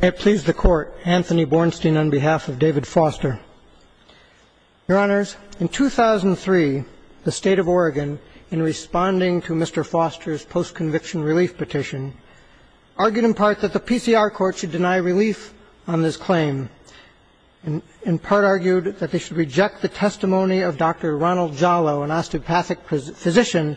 May it please the Court, Anthony Bornstein on behalf of David Foster. Your Honors, in 2003, the State of Oregon, in responding to Mr. Foster's post-conviction relief petition, argued in part that the PCR court should deny relief on this claim, and in part argued that they should reject the testimony of Dr. Ronald Jallo, an osteopathic physician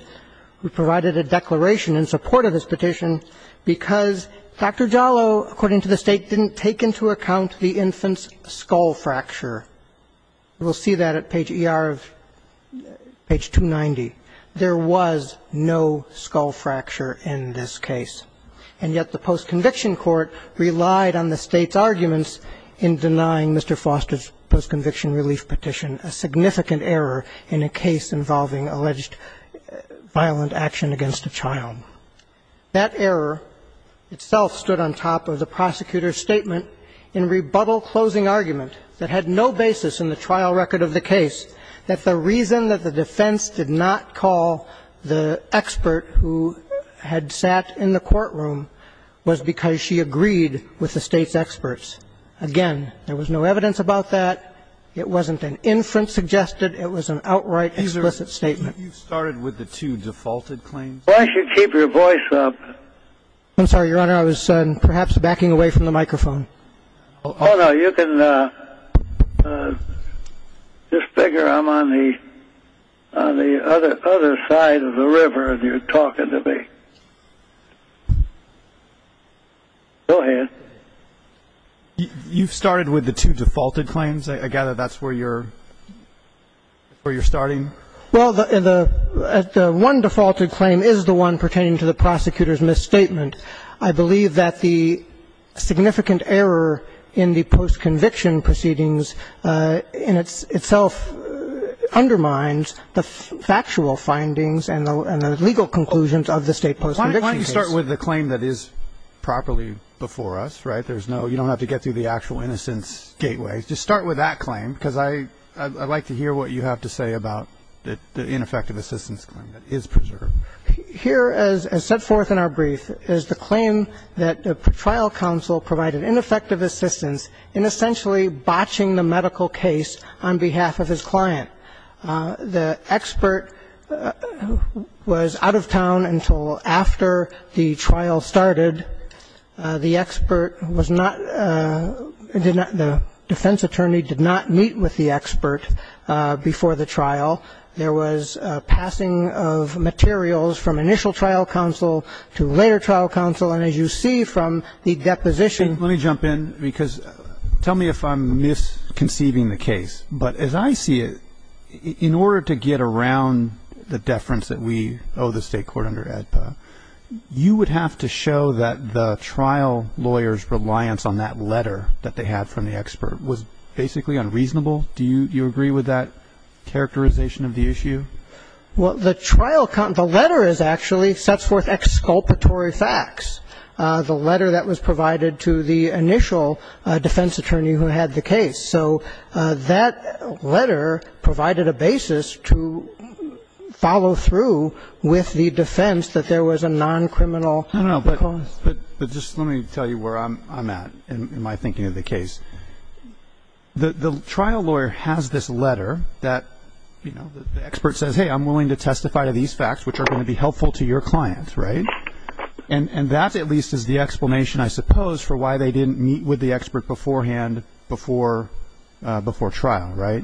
who provided a declaration in support of his petition, because Dr. Jallo, according to the State, didn't take into account the infant's skull fracture. We'll see that at page 290. There was no skull fracture in this case, and yet the post-conviction court relied on the State's arguments in denying Mr. Foster's post-conviction relief petition a significant error in a case involving alleged violent action against a child. That error itself stood on top of the prosecutor's statement in rebuttal closing argument that had no basis in the trial record of the case, that the reason that the defense did not call the expert who had sat in the courtroom was because she agreed with the State's experts. Again, there was no evidence about that. It wasn't an infant suggested. It was an outright explicit statement. You started with the two defaulted claims. Why don't you keep your voice up? I'm sorry, Your Honor. I was perhaps backing away from the microphone. Oh, no. You can just figure I'm on the other side of the river and you're talking to me. Go ahead. You started with the two defaulted claims. I gather that's where you're starting. Well, the one defaulted claim is the one pertaining to the prosecutor's misstatement. I believe that the significant error in the post-conviction proceedings in itself undermines the factual findings and the legal conclusions of the State post-conviction case. Why don't you start with the claim that is properly before us, right? There's no – you don't have to get through the actual innocence gateway. Just start with that claim because I'd like to hear what you have to say about the ineffective assistance claim that is preserved. Here, as set forth in our brief, is the claim that the trial counsel provided ineffective assistance in essentially botching the medical case on behalf of his client. The expert was out of town until after the trial started. The expert was not – the defense attorney did not meet with the expert before the trial. There was passing of materials from initial trial counsel to later trial counsel. And as you see from the deposition – Let me jump in because – tell me if I'm misconceiving the case. But as I see it, in order to get around the deference that we owe the State court under AEDPA, you would have to show that the trial lawyer's reliance on that letter that they had from the expert was basically unreasonable. Do you agree with that characterization of the issue? Well, the trial – the letter is actually – sets forth exculpatory facts. The letter that was provided to the initial defense attorney who had the case. So that letter provided a basis to follow through with the defense that there was a non-criminal cause. But just let me tell you where I'm at in my thinking of the case. The trial lawyer has this letter that, you know, the expert says, hey, I'm willing to testify to these facts, which are going to be helpful to your client, right? And that, at least, is the explanation, I suppose, for why they didn't meet with the expert beforehand before trial, right?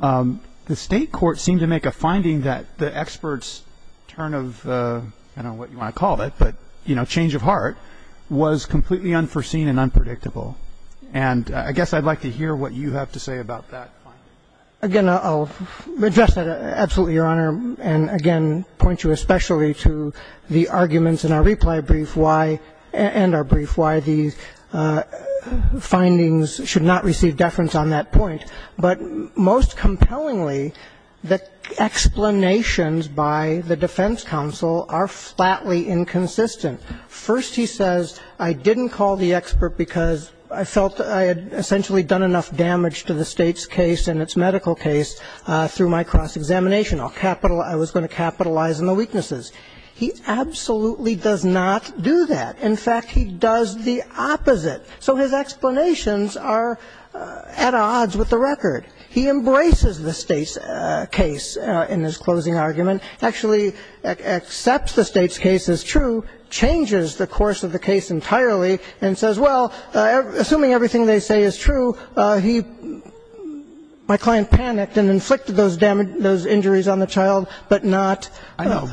The State court seemed to make a finding that the expert's turn of – I don't know what you want to call it, but, you know, change of heart was completely unforeseen and unpredictable. And I guess I'd like to hear what you have to say about that finding. Again, I'll address that absolutely, Your Honor, and again point you especially to the arguments in our reply brief and our brief why these findings should not receive deference on that point. But most compellingly, the explanations by the defense counsel are flatly inconsistent. First, he says, I didn't call the expert because I felt I had essentially done enough damage to the State's case and its medical case through my cross-examination. I'll capital – I was going to capitalize on the weaknesses. He absolutely does not do that. In fact, he does the opposite. So his explanations are at odds with the record. He embraces the State's case in his closing argument, actually accepts the State's case as true, changes the course of the case entirely, and says, well, assuming everything they say is true, he – my client panicked and inflicted those injuries on the child, but not – I know,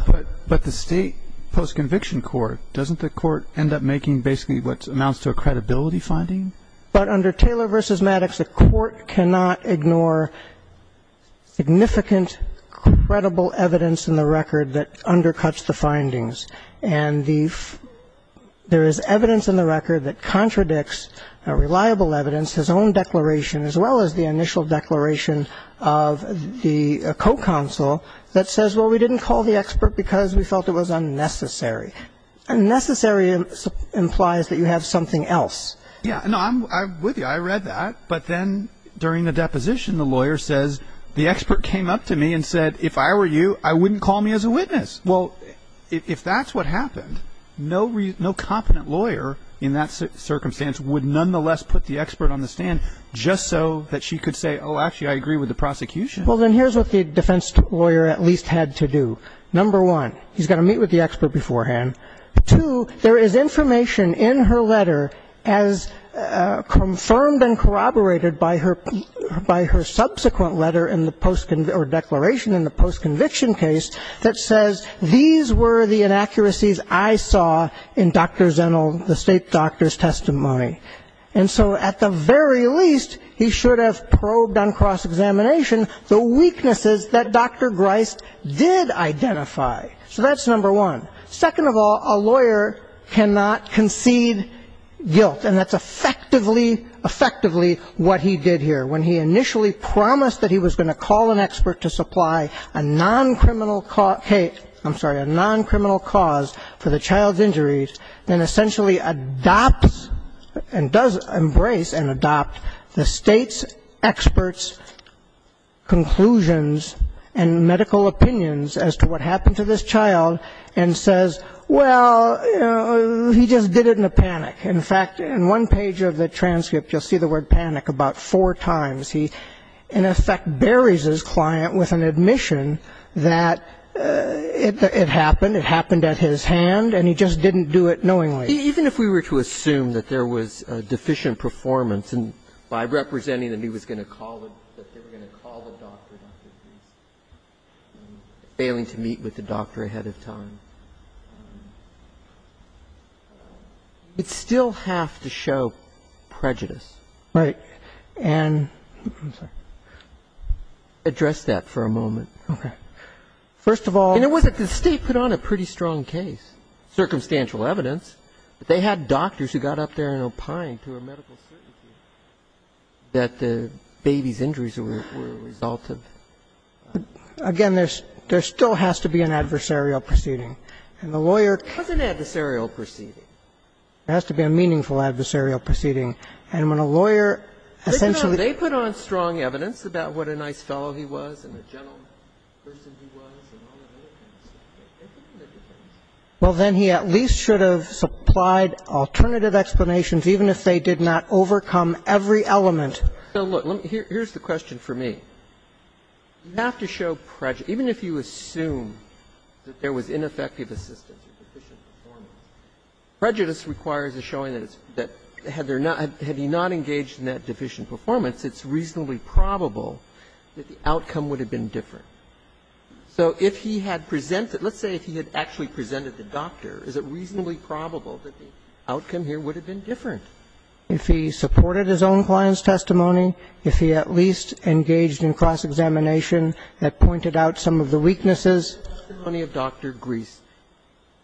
but the State post-conviction court, doesn't the court end up making basically what amounts to a credibility finding? But under Taylor v. Maddox, the court cannot ignore significant credible evidence in the record that undercuts the findings. And the – there is evidence in the record that contradicts reliable evidence, his own declaration as well as the initial declaration of the co-counsel that says, well, we didn't call the expert because we felt it was unnecessary. Unnecessary implies that you have something else. Yeah. No, I'm with you. I read that. But then during the deposition, the lawyer says, the expert came up to me and said, if I were you, I wouldn't call me as a witness. Well, if that's what happened, no competent lawyer in that circumstance would nonetheless put the expert on the stand just so that she could say, oh, actually, I agree with the prosecution. Well, then here's what the defense lawyer at least had to do. Number one, he's got to meet with the expert beforehand. Two, there is information in her letter as confirmed and corroborated by her subsequent letter or declaration in the post-conviction case that says, these were the inaccuracies I saw in Dr. Zennel, the state doctor's testimony. And so at the very least, he should have probed on cross-examination the weaknesses that Dr. Grist did identify. So that's number one. Second of all, a lawyer cannot concede guilt, and that's effectively what he did here. When he initially promised that he was going to call an expert to supply a non-criminal, I'm sorry, a non-criminal cause for the child's injuries, then essentially adopts and does embrace and adopt the state's experts' conclusions and medical opinions as to what happened to this child and says, well, he just did it in a panic. In fact, in one page of the transcript, you'll see the word panic about four times. He, in effect, buries his client with an admission that it happened, it happened at his hand, and he just didn't do it knowingly. Even if we were to assume that there was deficient performance and by representing that he was going to call, that they were going to call the doctor, Dr. Grist, failing to meet with the doctor ahead of time. It still has to show prejudice. Right. And I'm sorry. Address that for a moment. Okay. First of all. And it wasn't. The State put on a pretty strong case, circumstantial evidence. They had doctors who got up there and opined to a medical certainty that the baby's injuries were a result of. Again, there still has to be an adversarial proceeding. And the lawyer. It wasn't an adversarial proceeding. It has to be a meaningful adversarial proceeding. And when a lawyer essentially. They put on strong evidence about what a nice fellow he was and a gentle person he was and all of that. Well, then he at least should have supplied alternative explanations, even if they did not overcome every element. Here's the question for me. You have to show prejudice. Even if you assume that there was ineffective assistance or deficient performance, prejudice requires a showing that it's, that had there not, had he not engaged in that deficient performance, it's reasonably probable that the outcome would have been different. So if he had presented, let's say if he had actually presented the doctor, is it reasonably probable that the outcome here would have been different? If he supported his own client's testimony, if he at least engaged in cross-examination that pointed out some of the weaknesses. The testimony of Dr. Gries.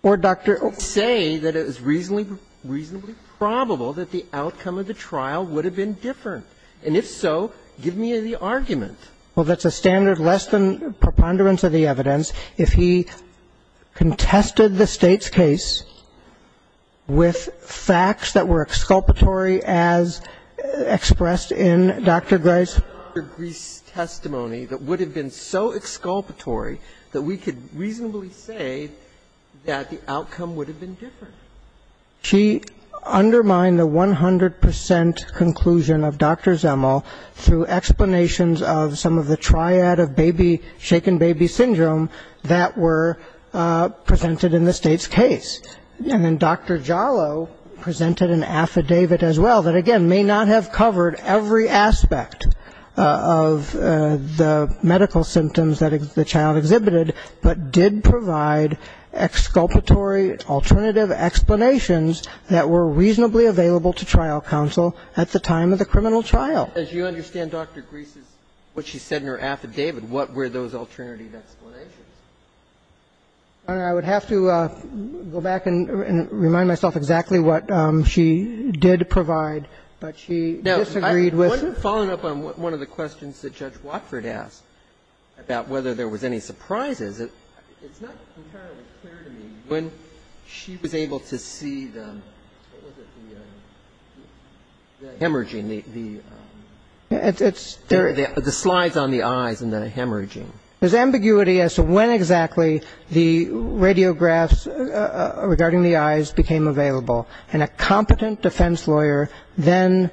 Or Dr. Oaks. Say that it was reasonably, reasonably probable that the outcome of the trial would have been different. And if so, give me the argument. Well, that's a standard less than preponderance of the evidence. If he contested the State's case with facts that were exculpatory as expressed in Dr. Gries' testimony that would have been so exculpatory that we could reasonably say that the outcome would have been different. She undermined the 100 percent conclusion of Dr. Zemel through explanations of some of the triad of baby, shaken baby syndrome that were presented in the State's case. And then Dr. Jallo presented an affidavit as well that, again, may not have covered every aspect of the medical symptoms that the child exhibited, but did provide exculpatory alternative explanations that were reasonably available to trial counsel at the time of the criminal trial. As you understand, Dr. Gries' what she said in her affidavit, what were those alternative explanations? Your Honor, I would have to go back and remind myself exactly what she did provide. But she disagreed with them. Now, following up on one of the questions that Judge Watford asked about whether there was any surprises, it's not entirely clear to me when she was able to see the hemorrhaging, the slides on the eyes and the hemorrhaging. There's ambiguity as to when exactly the radiographs regarding the eyes became available. And a competent defense lawyer then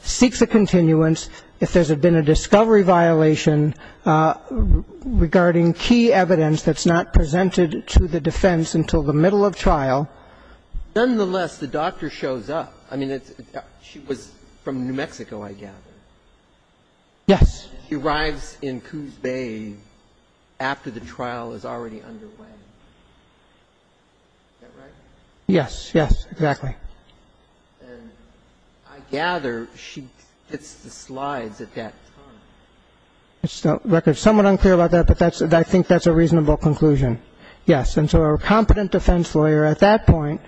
seeks a continuance if there's been a discovery violation regarding key evidence that's not presented to the defense until the middle of trial. Nonetheless, the doctor shows up. I mean, she was from New Mexico, I gather. Yes. She arrives in Coos Bay after the trial is already underway. Is that right? Yes. Yes, exactly. And I gather she hits the slides at that time. It's somewhat unclear about that, but I think that's a reasonable conclusion. Yes. And so a competent defense lawyer at that point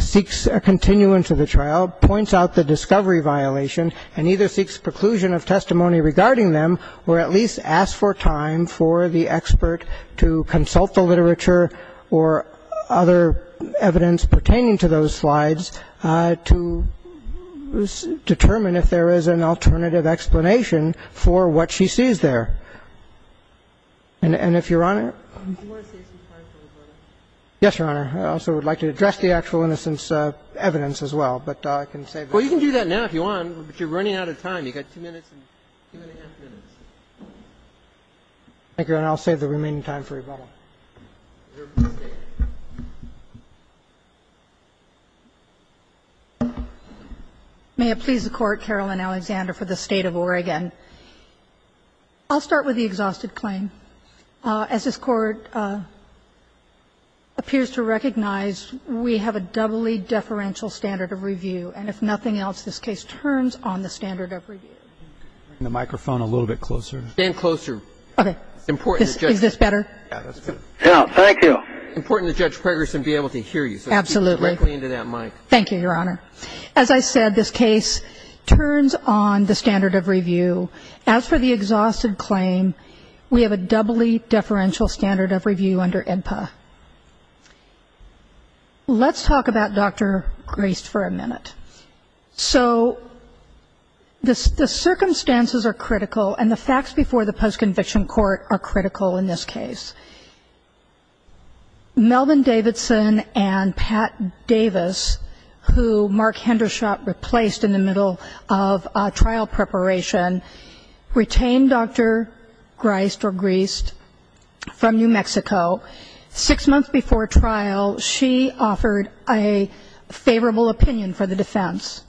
seeks a continuance of the trial, points out the discovery violation, and either seeks preclusion of testimony regarding them or at least ask for time for the expert to consult the literature or other evidence pertaining to those slides to determine if there is an alternative explanation for what she sees there. And if Your Honor? You want to save some time for rebuttal? Yes, Your Honor. I also would like to address the actual innocence evidence as well. But I can save that. Well, you can do that now if you want, but you're running out of time. You've got two minutes and two and a half minutes. Thank you, Your Honor. I'll save the remaining time for rebuttal. May it please the Court, Caroline Alexander for the State of Oregon. I'll start with the exhausted claim. As this Court appears to recognize, we have a doubly deferential standard of review. And if nothing else, this case turns on the standard of review. Bring the microphone a little bit closer. Stand closer. Okay. Is this better? Yeah, that's better. Thank you. It's important that Judge Pregerson be able to hear you. Absolutely. So speak directly into that mic. Thank you, Your Honor. As I said, this case turns on the standard of review. As for the exhausted claim, we have a doubly deferential standard of review under INPA. Let's talk about Dr. Graist for a minute. So the circumstances are critical, and the facts before the post-conviction court are critical in this case. Melvin Davidson and Pat Davis, who Mark Hendershot replaced in the middle of trial preparation, retained Dr. Graist from New Mexico. Six months before trial, she offered a favorable opinion for the defense.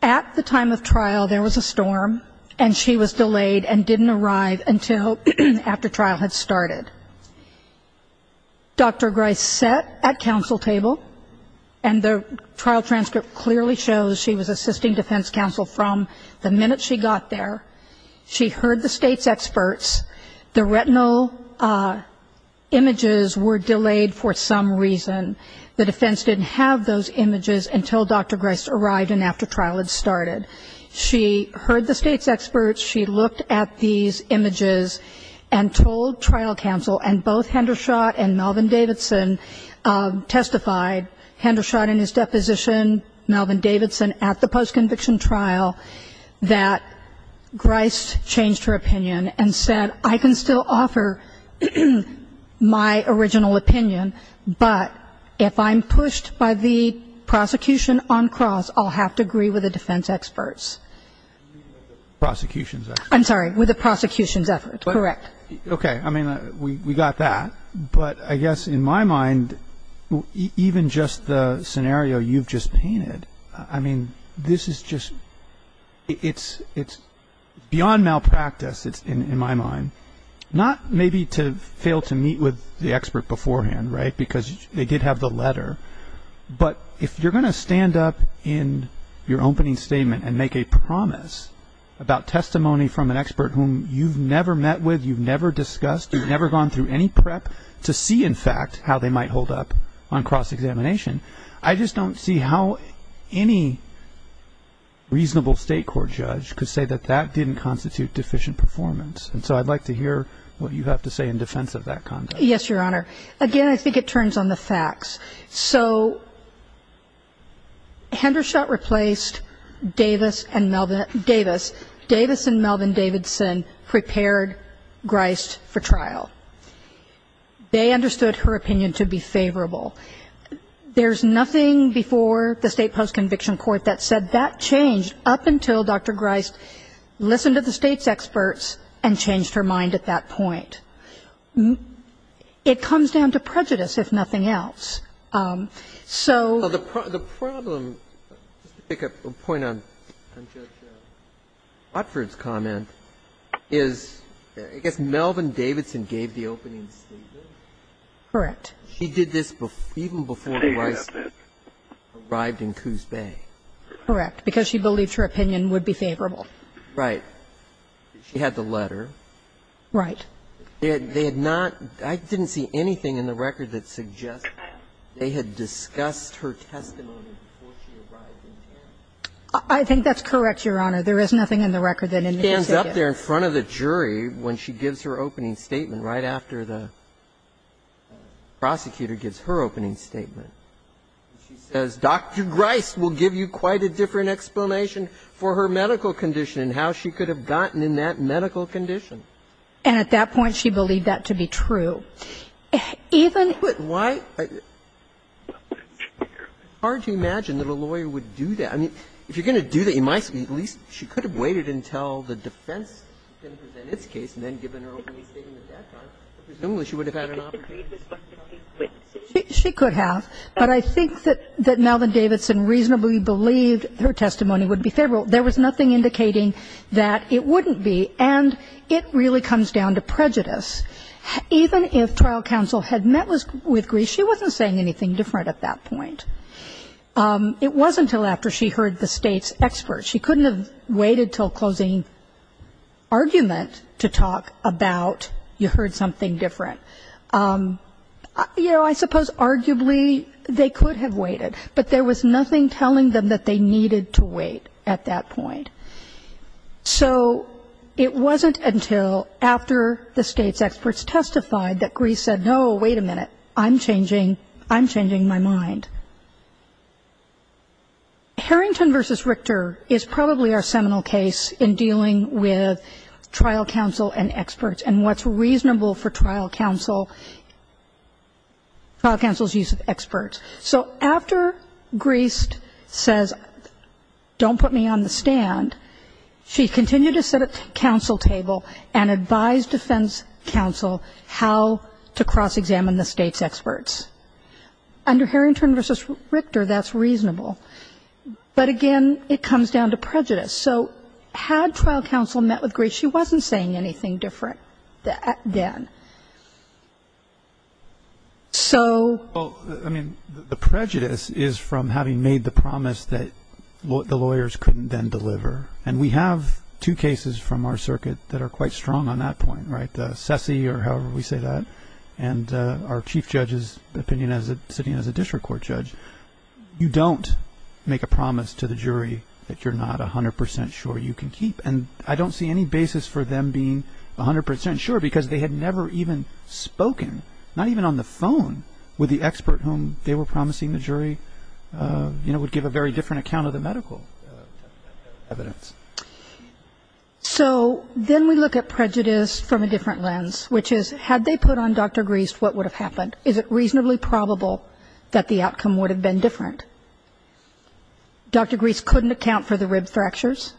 At the time of trial, there was a storm, and she was delayed and didn't arrive until after trial had started. Dr. Graist sat at counsel table, and the trial transcript clearly shows she was assisting defense counsel from the minute she got there. She heard the state's experts. The retinal images were delayed for some reason. The defense didn't have those images until Dr. Graist arrived and after trial had started. She heard the state's experts. She looked at these images and told trial counsel, and both Hendershot and Melvin Davidson testified, Hendershot in his deposition, Melvin Davidson at the post-conviction trial, that Graist changed her opinion and said, I can still offer my original opinion, but if I'm pushed by the prosecution on cross, I'll have to agree with the defense experts. With the prosecution's experts. I'm sorry. With the prosecution's efforts. Correct. Okay. I mean, we got that. But I guess in my mind, even just the scenario you've just painted, I mean, this is just beyond malpractice in my mind. Not maybe to fail to meet with the expert beforehand, right, because they did have the letter, but if you're going to stand up in your opening statement and make a promise about testimony from an expert whom you've never met with, you've never discussed, you've never gone through any prep to see, in fact, how they might hold up on cross-examination, I just don't see how any reasonable state court judge could say that that didn't constitute deficient performance. And so I'd like to hear what you have to say in defense of that conduct. Yes, Your Honor. Again, I think it turns on the facts. So Hendershott replaced Davis and Melvin Davidson prepared Grist for trial. They understood her opinion to be favorable. There's nothing before the state post-conviction court that said that changed up until Dr. Grist listened to the state's experts and changed her mind at that point. It comes down to prejudice, if nothing else. So the problem, just to pick up a point on Judge Watford's comment, is I guess Melvin Davidson gave the opening statement. Correct. She did this even before the rights arrived in Coos Bay. Correct. Because she believed her opinion would be favorable. Right. She had the letter. Right. They had not – I didn't see anything in the record that suggests they had discussed her testimony before she arrived in Tarrant. I think that's correct, Your Honor. There is nothing in the record that indicates that. She stands up there in front of the jury when she gives her opening statement right after the prosecutor gives her opening statement. She says, Dr. Grist will give you quite a different explanation for her medical condition and how she could have gotten in that medical condition. And at that point, she believed that to be true. Even – But why – it's hard to imagine that a lawyer would do that. I mean, if you're going to do that, you might say at least she could have waited until the defense presented its case and then given her opening statement at that time. Presumably, she would have had an opportunity. She could have. But I think that Melvin Davidson reasonably believed her testimony would be favorable. There was nothing indicating that it wouldn't be. And it really comes down to prejudice. Even if trial counsel had met with Grist, she wasn't saying anything different at that point. It wasn't until after she heard the State's experts. She couldn't have waited until closing argument to talk about you heard something different. You know, I suppose arguably they could have waited. But there was nothing telling them that they needed to wait at that point. So it wasn't until after the State's experts testified that Grist said, no, wait a minute, I'm changing – I'm changing my mind. Harrington v. Richter is probably our seminal case in dealing with trial counsel and experts and what's reasonable for trial counsel – trial counsel's use of experts. So after Grist says, don't put me on the stand, she continued to sit at the counsel table and advise defense counsel how to cross-examine the State's experts. Under Harrington v. Richter, that's reasonable. But, again, it comes down to prejudice. So had trial counsel met with Grist, she wasn't saying anything different then. So – Well, I mean, the prejudice is from having made the promise that the lawyers couldn't then deliver. And we have two cases from our circuit that are quite strong on that point, right, the SESI or however we say that and our chief judge's opinion as a – sitting as a district court judge. You don't make a promise to the jury that you're not 100 percent sure you can keep. And I don't see any basis for them being 100 percent sure because they had never even spoken, not even on the phone, with the expert whom they were promising the jury would give a very different account of the medical evidence. So then we look at prejudice from a different lens, which is had they put on Dr. Grist what would have happened? Is it reasonably probable that the outcome would have been different? Dr. Grist couldn't account for the rib fractures.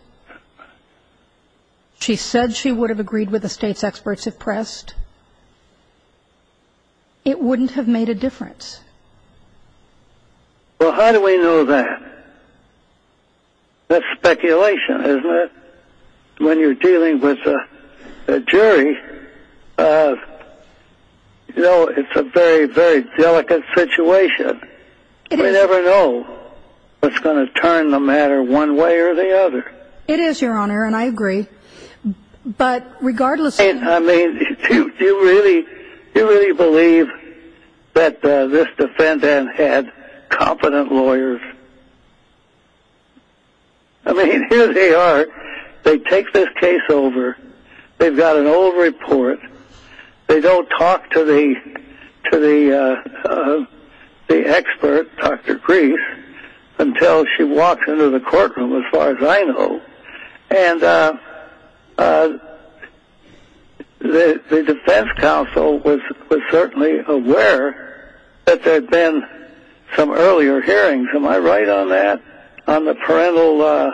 She said she would have agreed with the state's experts if pressed. It wouldn't have made a difference. Well, how do we know that? That's speculation, isn't it? When you're dealing with a jury, you know, it's a very, very delicate situation. We never know what's going to turn the matter one way or the other. It is, Your Honor, and I agree. But regardless of – I mean, do you really believe that this defendant had competent lawyers? I mean, here they are. They take this case over. They've got an old report. They don't talk to the expert, Dr. Grist, until she walks into the courtroom, as far as I know. And the defense counsel was certainly aware that there had been some earlier hearings. Am I right on that, on the parental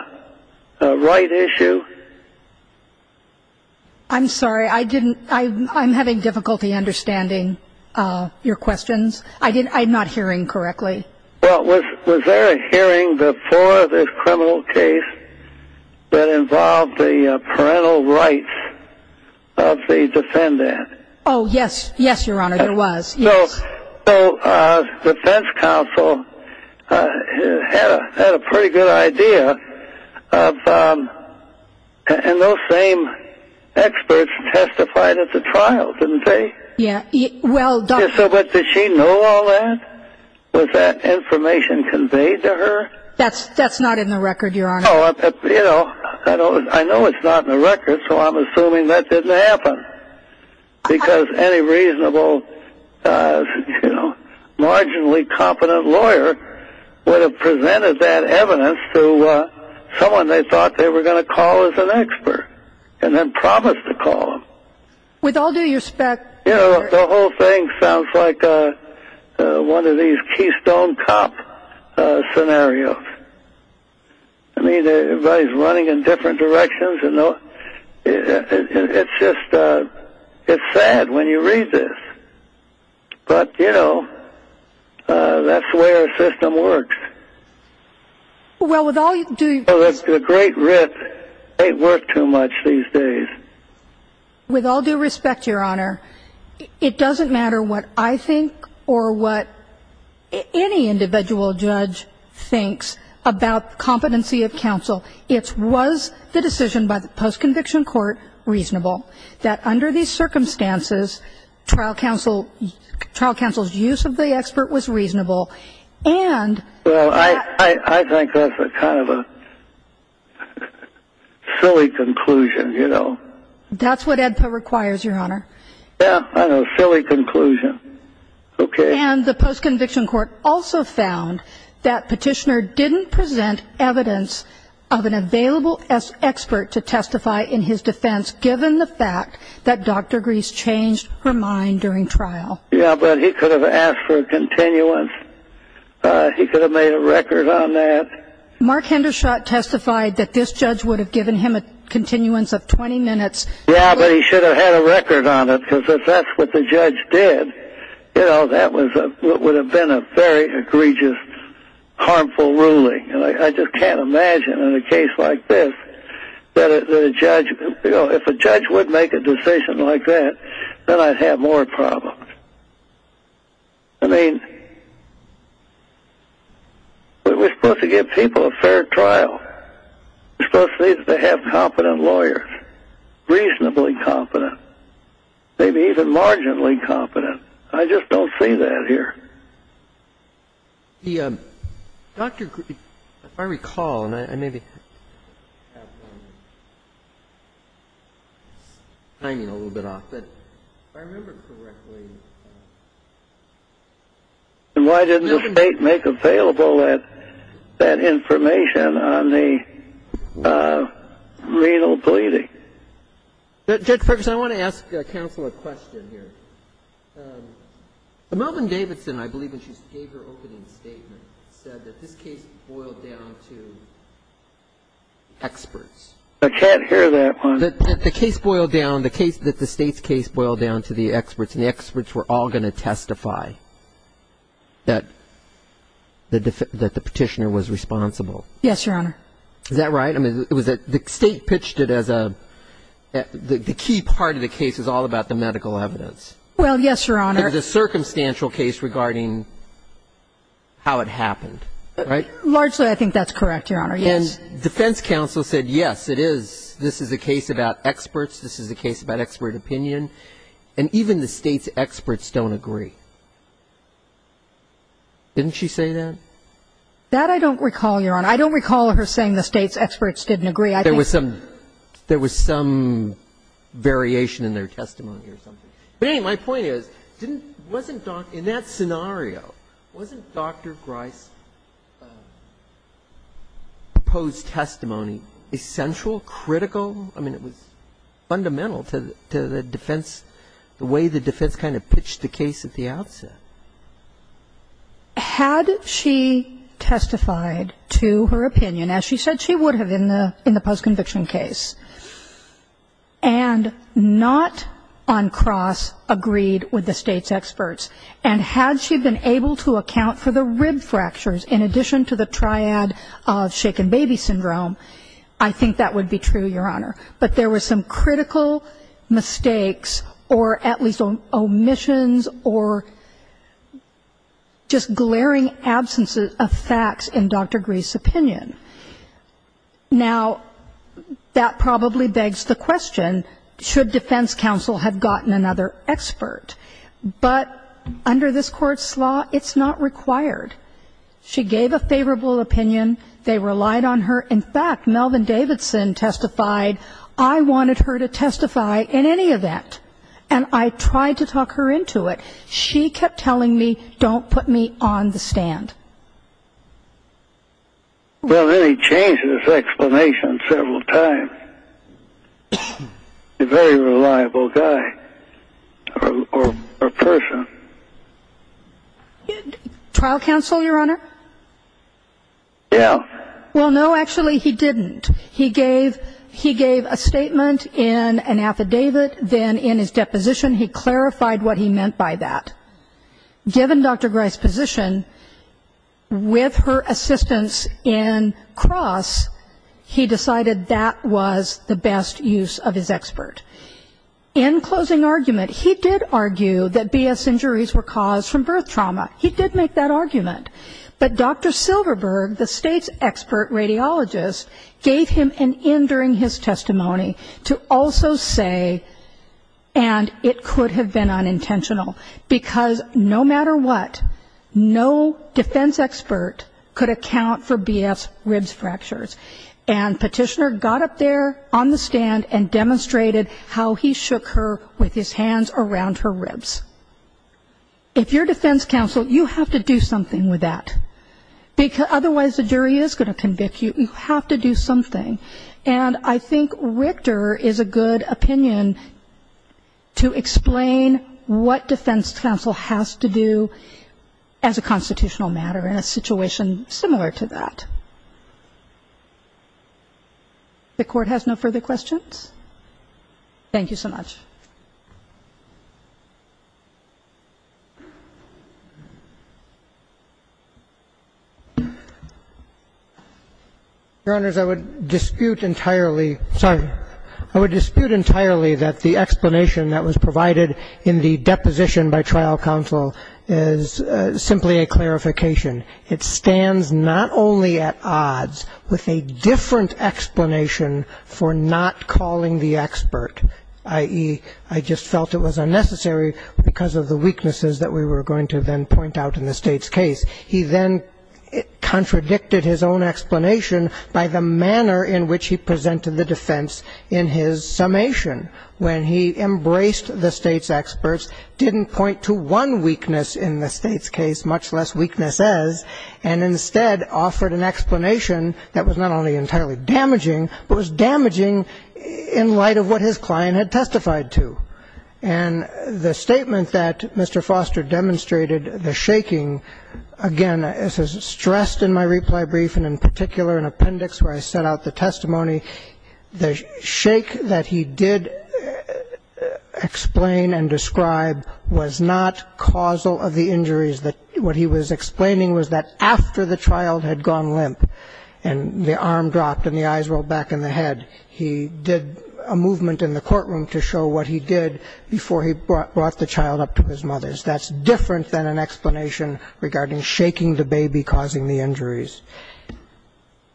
right issue? I'm sorry. I'm having difficulty understanding your questions. I'm not hearing correctly. Well, was there a hearing before this criminal case that involved the parental rights of the defendant? Oh, yes. Yes, Your Honor, there was. Yes. So the defense counsel had a pretty good idea of – and those same experts testified at the trial, didn't they? Yeah. So did she know all that? Was that information conveyed to her? That's not in the record, Your Honor. Oh, you know, I know it's not in the record, so I'm assuming that didn't happen. Because any reasonable, you know, marginally competent lawyer would have presented that evidence to someone they thought they were going to call as an expert and then promised to call them. With all due respect, Your Honor – You know, the whole thing sounds like one of these Keystone Cop scenarios. I mean, everybody's running in different directions. It's just – it's sad when you read this. But, you know, that's the way our system works. Well, with all due – The great writ ain't worked too much these days. With all due respect, Your Honor, it doesn't matter what I think or what any individual judge thinks about competency of counsel. It was the decision by the post-conviction court reasonable that under these circumstances, trial counsel's use of the expert was reasonable. And – Well, I think that's kind of a silly conclusion, you know. That's what AEDPA requires, Your Honor. Yeah, I know. Silly conclusion. Okay. And the post-conviction court also found that petitioner didn't present evidence of an available expert to testify in his defense given the fact that Dr. Greese changed her mind during trial. Yeah, but he could have asked for a continuance. He could have made a record on that. Mark Hendershot testified that this judge would have given him a continuance of 20 minutes. Yeah, but he should have had a record on it because if that's what the judge did, you know, that would have been a very egregious, harmful ruling. And I just can't imagine in a case like this that a judge – you know, if a judge would make a decision like that, then I'd have more problems. I mean, we're supposed to give people a fair trial. We're supposed to have competent lawyers, reasonably competent, maybe even marginally competent. I just don't see that here. Dr. Greese, if I recall, and I may be timing a little bit off, but if I remember correctly – And why didn't the State make available that information on the renal bleeding? Judge Ferguson, I want to ask counsel a question here. Melvin Davidson, I believe, when she gave her opening statement, said that this case boiled down to experts. I can't hear that one. That the case boiled down – that the State's case boiled down to the experts and the experts were all going to testify that the petitioner was responsible. Yes, Your Honor. Is that right? I mean, was that – the State pitched it as a – the key part of the case was all about the medical evidence. Well, yes, Your Honor. It was a circumstantial case regarding how it happened, right? Largely, I think that's correct, Your Honor, yes. And defense counsel said, yes, it is. This is a case about experts. This is a case about expert opinion. And even the State's experts don't agree. Didn't she say that? That I don't recall, Your Honor. I don't recall her saying the State's experts didn't agree. I think – There was some variation in their testimony or something. My point is, didn't – wasn't – in that scenario, wasn't Dr. Grice's proposed testimony essential, critical? I mean, it was fundamental to the defense, the way the defense kind of pitched the case at the outset. Had she testified to her opinion, as she said she would have in the post-conviction case, and not on cross agreed with the State's experts, and had she been able to account for the rib fractures in addition to the triad of shaken baby syndrome, I think that would be true, Your Honor. But there were some critical mistakes or at least omissions or just glaring Now, that probably begs the question, should defense counsel have gotten another expert? But under this Court's law, it's not required. She gave a favorable opinion. They relied on her. In fact, Melvin Davidson testified, I wanted her to testify in any event, and I tried to talk her into it. She kept telling me, don't put me on the stand. Well, then he changed his explanation several times. He's a very reliable guy or person. Trial counsel, Your Honor? Yeah. Well, no, actually he didn't. He gave a statement in an affidavit, then in his deposition he clarified what he meant by that. Given Dr. Grice's position, with her assistance in Cross, he decided that was the best use of his expert. In closing argument, he did argue that BS injuries were caused from birth trauma. He did make that argument. But Dr. Silverberg, the State's expert radiologist, gave him an in during his testimony to also say, and it could have been unintentional, because no matter what, no defense expert could account for BS ribs fractures. And Petitioner got up there on the stand and demonstrated how he shook her with his hands around her ribs. If you're defense counsel, you have to do something with that. Otherwise the jury is going to convict you. You have to do something. And I think Richter is a good opinion to explain what defense counsel has to do as a constitutional matter in a situation similar to that. The Court has no further questions? Thank you so much. Your Honors, I would dispute entirely. Sorry. I would dispute entirely that the explanation that was provided in the deposition by trial counsel is simply a clarification. It stands not only at odds with a different explanation for not calling the expert, i.e., I just felt it was unnecessary because of the weaknesses that we were going to then point out in the State's case. He then contradicted his own explanation by the manner in which he presented the defense in his summation. When he embraced the State's experts, didn't point to one weakness in the State's case, much less weaknesses, and instead offered an explanation that was not only entirely damaging, but was damaging in light of what his client had testified to. And the statement that Mr. Foster demonstrated, the shaking, again, as is stressed in my reply brief and in particular in appendix where I set out the testimony, the shake that he did explain and describe was not causal of the injuries. What he was explaining was that after the child had gone limp and the arm dropped and the eyes rolled back in the head, he did a movement in the courtroom to show what he did before he brought the child up to his mother's. That's different than an explanation regarding shaking the baby causing the injuries.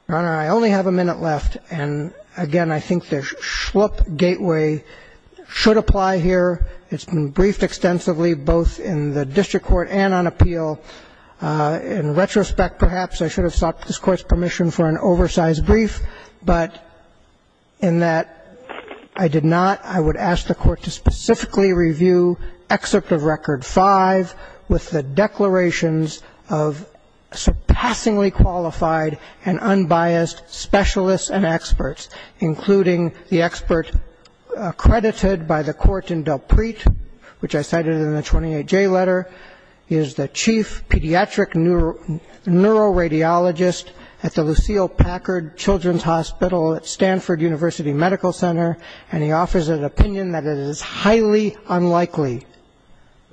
Your Honor, I only have a minute left. And, again, I think the schlup gateway should apply here. It's been briefed extensively both in the district court and on appeal. In retrospect, perhaps, I should have sought this Court's permission for an oversized brief, but in that I did not, I would ask the Court to specifically review Excerpt of Record V with the declarations of surpassingly qualified and unbiased specialists and experts, including the expert accredited by the court in Delpritte, which I cited in the 28J letter. He is the chief pediatric neuroradiologist at the Lucille Packard Children's Hospital at Stanford University Medical Center, and he offers an opinion that it is highly unlikely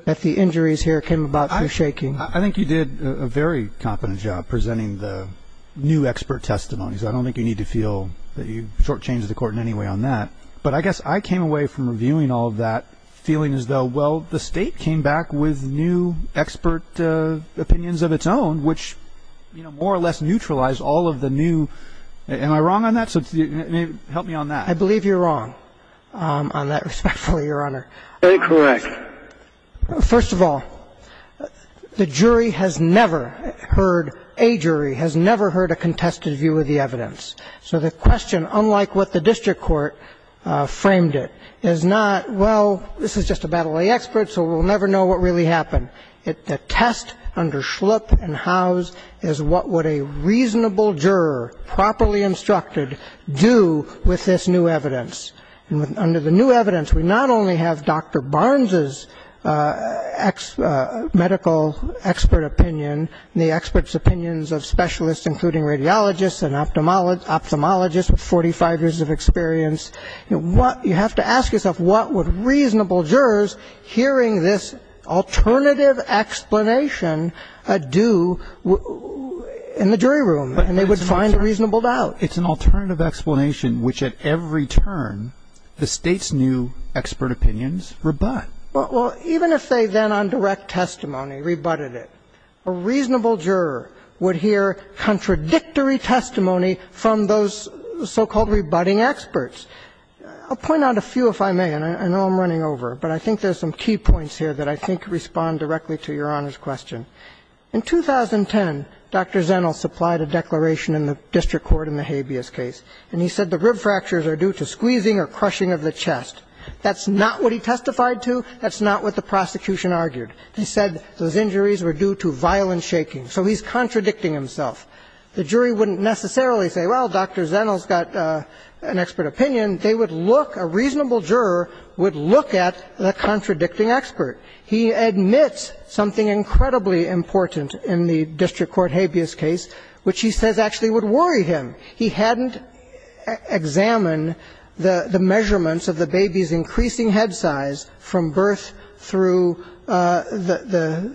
that the injuries here came about through shaking. I think you did a very competent job presenting the new expert testimonies. I don't think you need to feel that you shortchanged the Court in any way on that. But I guess I came away from reviewing all of that feeling as though, well, the State came back with new expert opinions of its own, which, you know, more or less neutralized all of the new. Am I wrong on that? Help me on that. I believe you're wrong on that, respectfully, Your Honor. Incorrect. First of all, the jury has never heard, a jury has never heard a contested view of the evidence. So the question, unlike what the district court framed it, is not, well, this is just a battle of the experts, so we'll never know what really happened. The test under Schlup and Howes is what would a reasonable juror, properly instructed, do with this new evidence. And under the new evidence, we not only have Dr. Barnes's medical expert opinion, the experts' opinions of specialists, including radiologists and ophthalmologists with 45 years of experience. You have to ask yourself, what would reasonable jurors hearing this alternative explanation do in the jury room? And they would find a reasonable doubt. It's an alternative explanation which, at every turn, the State's new expert opinions rebut. Well, even if they then, on direct testimony, rebutted it, a reasonable juror would hear contradictory testimony from those so-called rebutting experts. I'll point out a few, if I may, and I know I'm running over, but I think there's some key points here that I think respond directly to Your Honor's question. In 2010, Dr. Zenil supplied a declaration in the district court in the habeas case, and he said the rib fractures are due to squeezing or crushing of the chest. That's not what he testified to. That's not what the prosecution argued. He said those injuries were due to violent shaking. So he's contradicting himself. The jury wouldn't necessarily say, well, Dr. Zenil's got an expert opinion. They would look, a reasonable juror would look at the contradicting expert. He admits something incredibly important in the district court habeas case, which he says actually would worry him. He hadn't examined the measurements of the baby's increasing head size from birth through the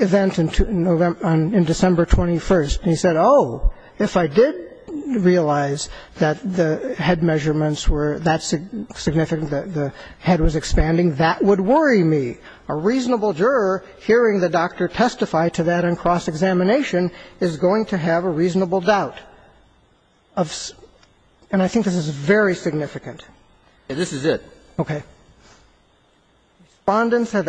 event in December 21st, and he said, oh, if I did realize that the head measurements were that significant, the head was expanding, that would worry me. A reasonable juror hearing the doctor testify to that in cross-examination is going to have a reasonable doubt. And I think this is very significant. And this is it. Okay. Respondents of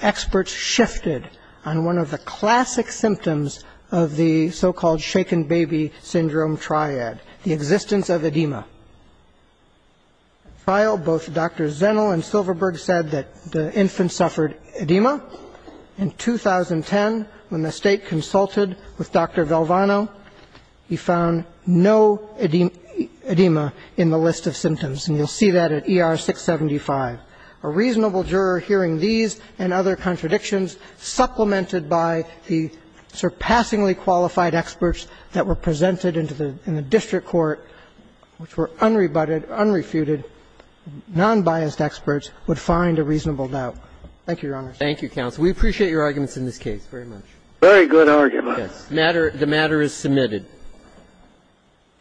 experts shifted on one of the classic symptoms of the so-called shaken baby syndrome triad, the existence of edema. In trial, both Dr. Zenil and Silverberg said that the infant suffered edema. In 2010, when the State consulted with Dr. Valvano, he found no edema in the list of symptoms, and you'll see that at ER 675. A reasonable juror hearing these and other contradictions supplemented by the surpassingly qualified experts that were presented in the district court, which were unrebutted, unrefuted, nonbiased experts, would find a reasonable doubt. Thank you, Your Honor. Thank you, counsel. We appreciate your arguments in this case very much. Very good argument. Yes. The matter is submitted.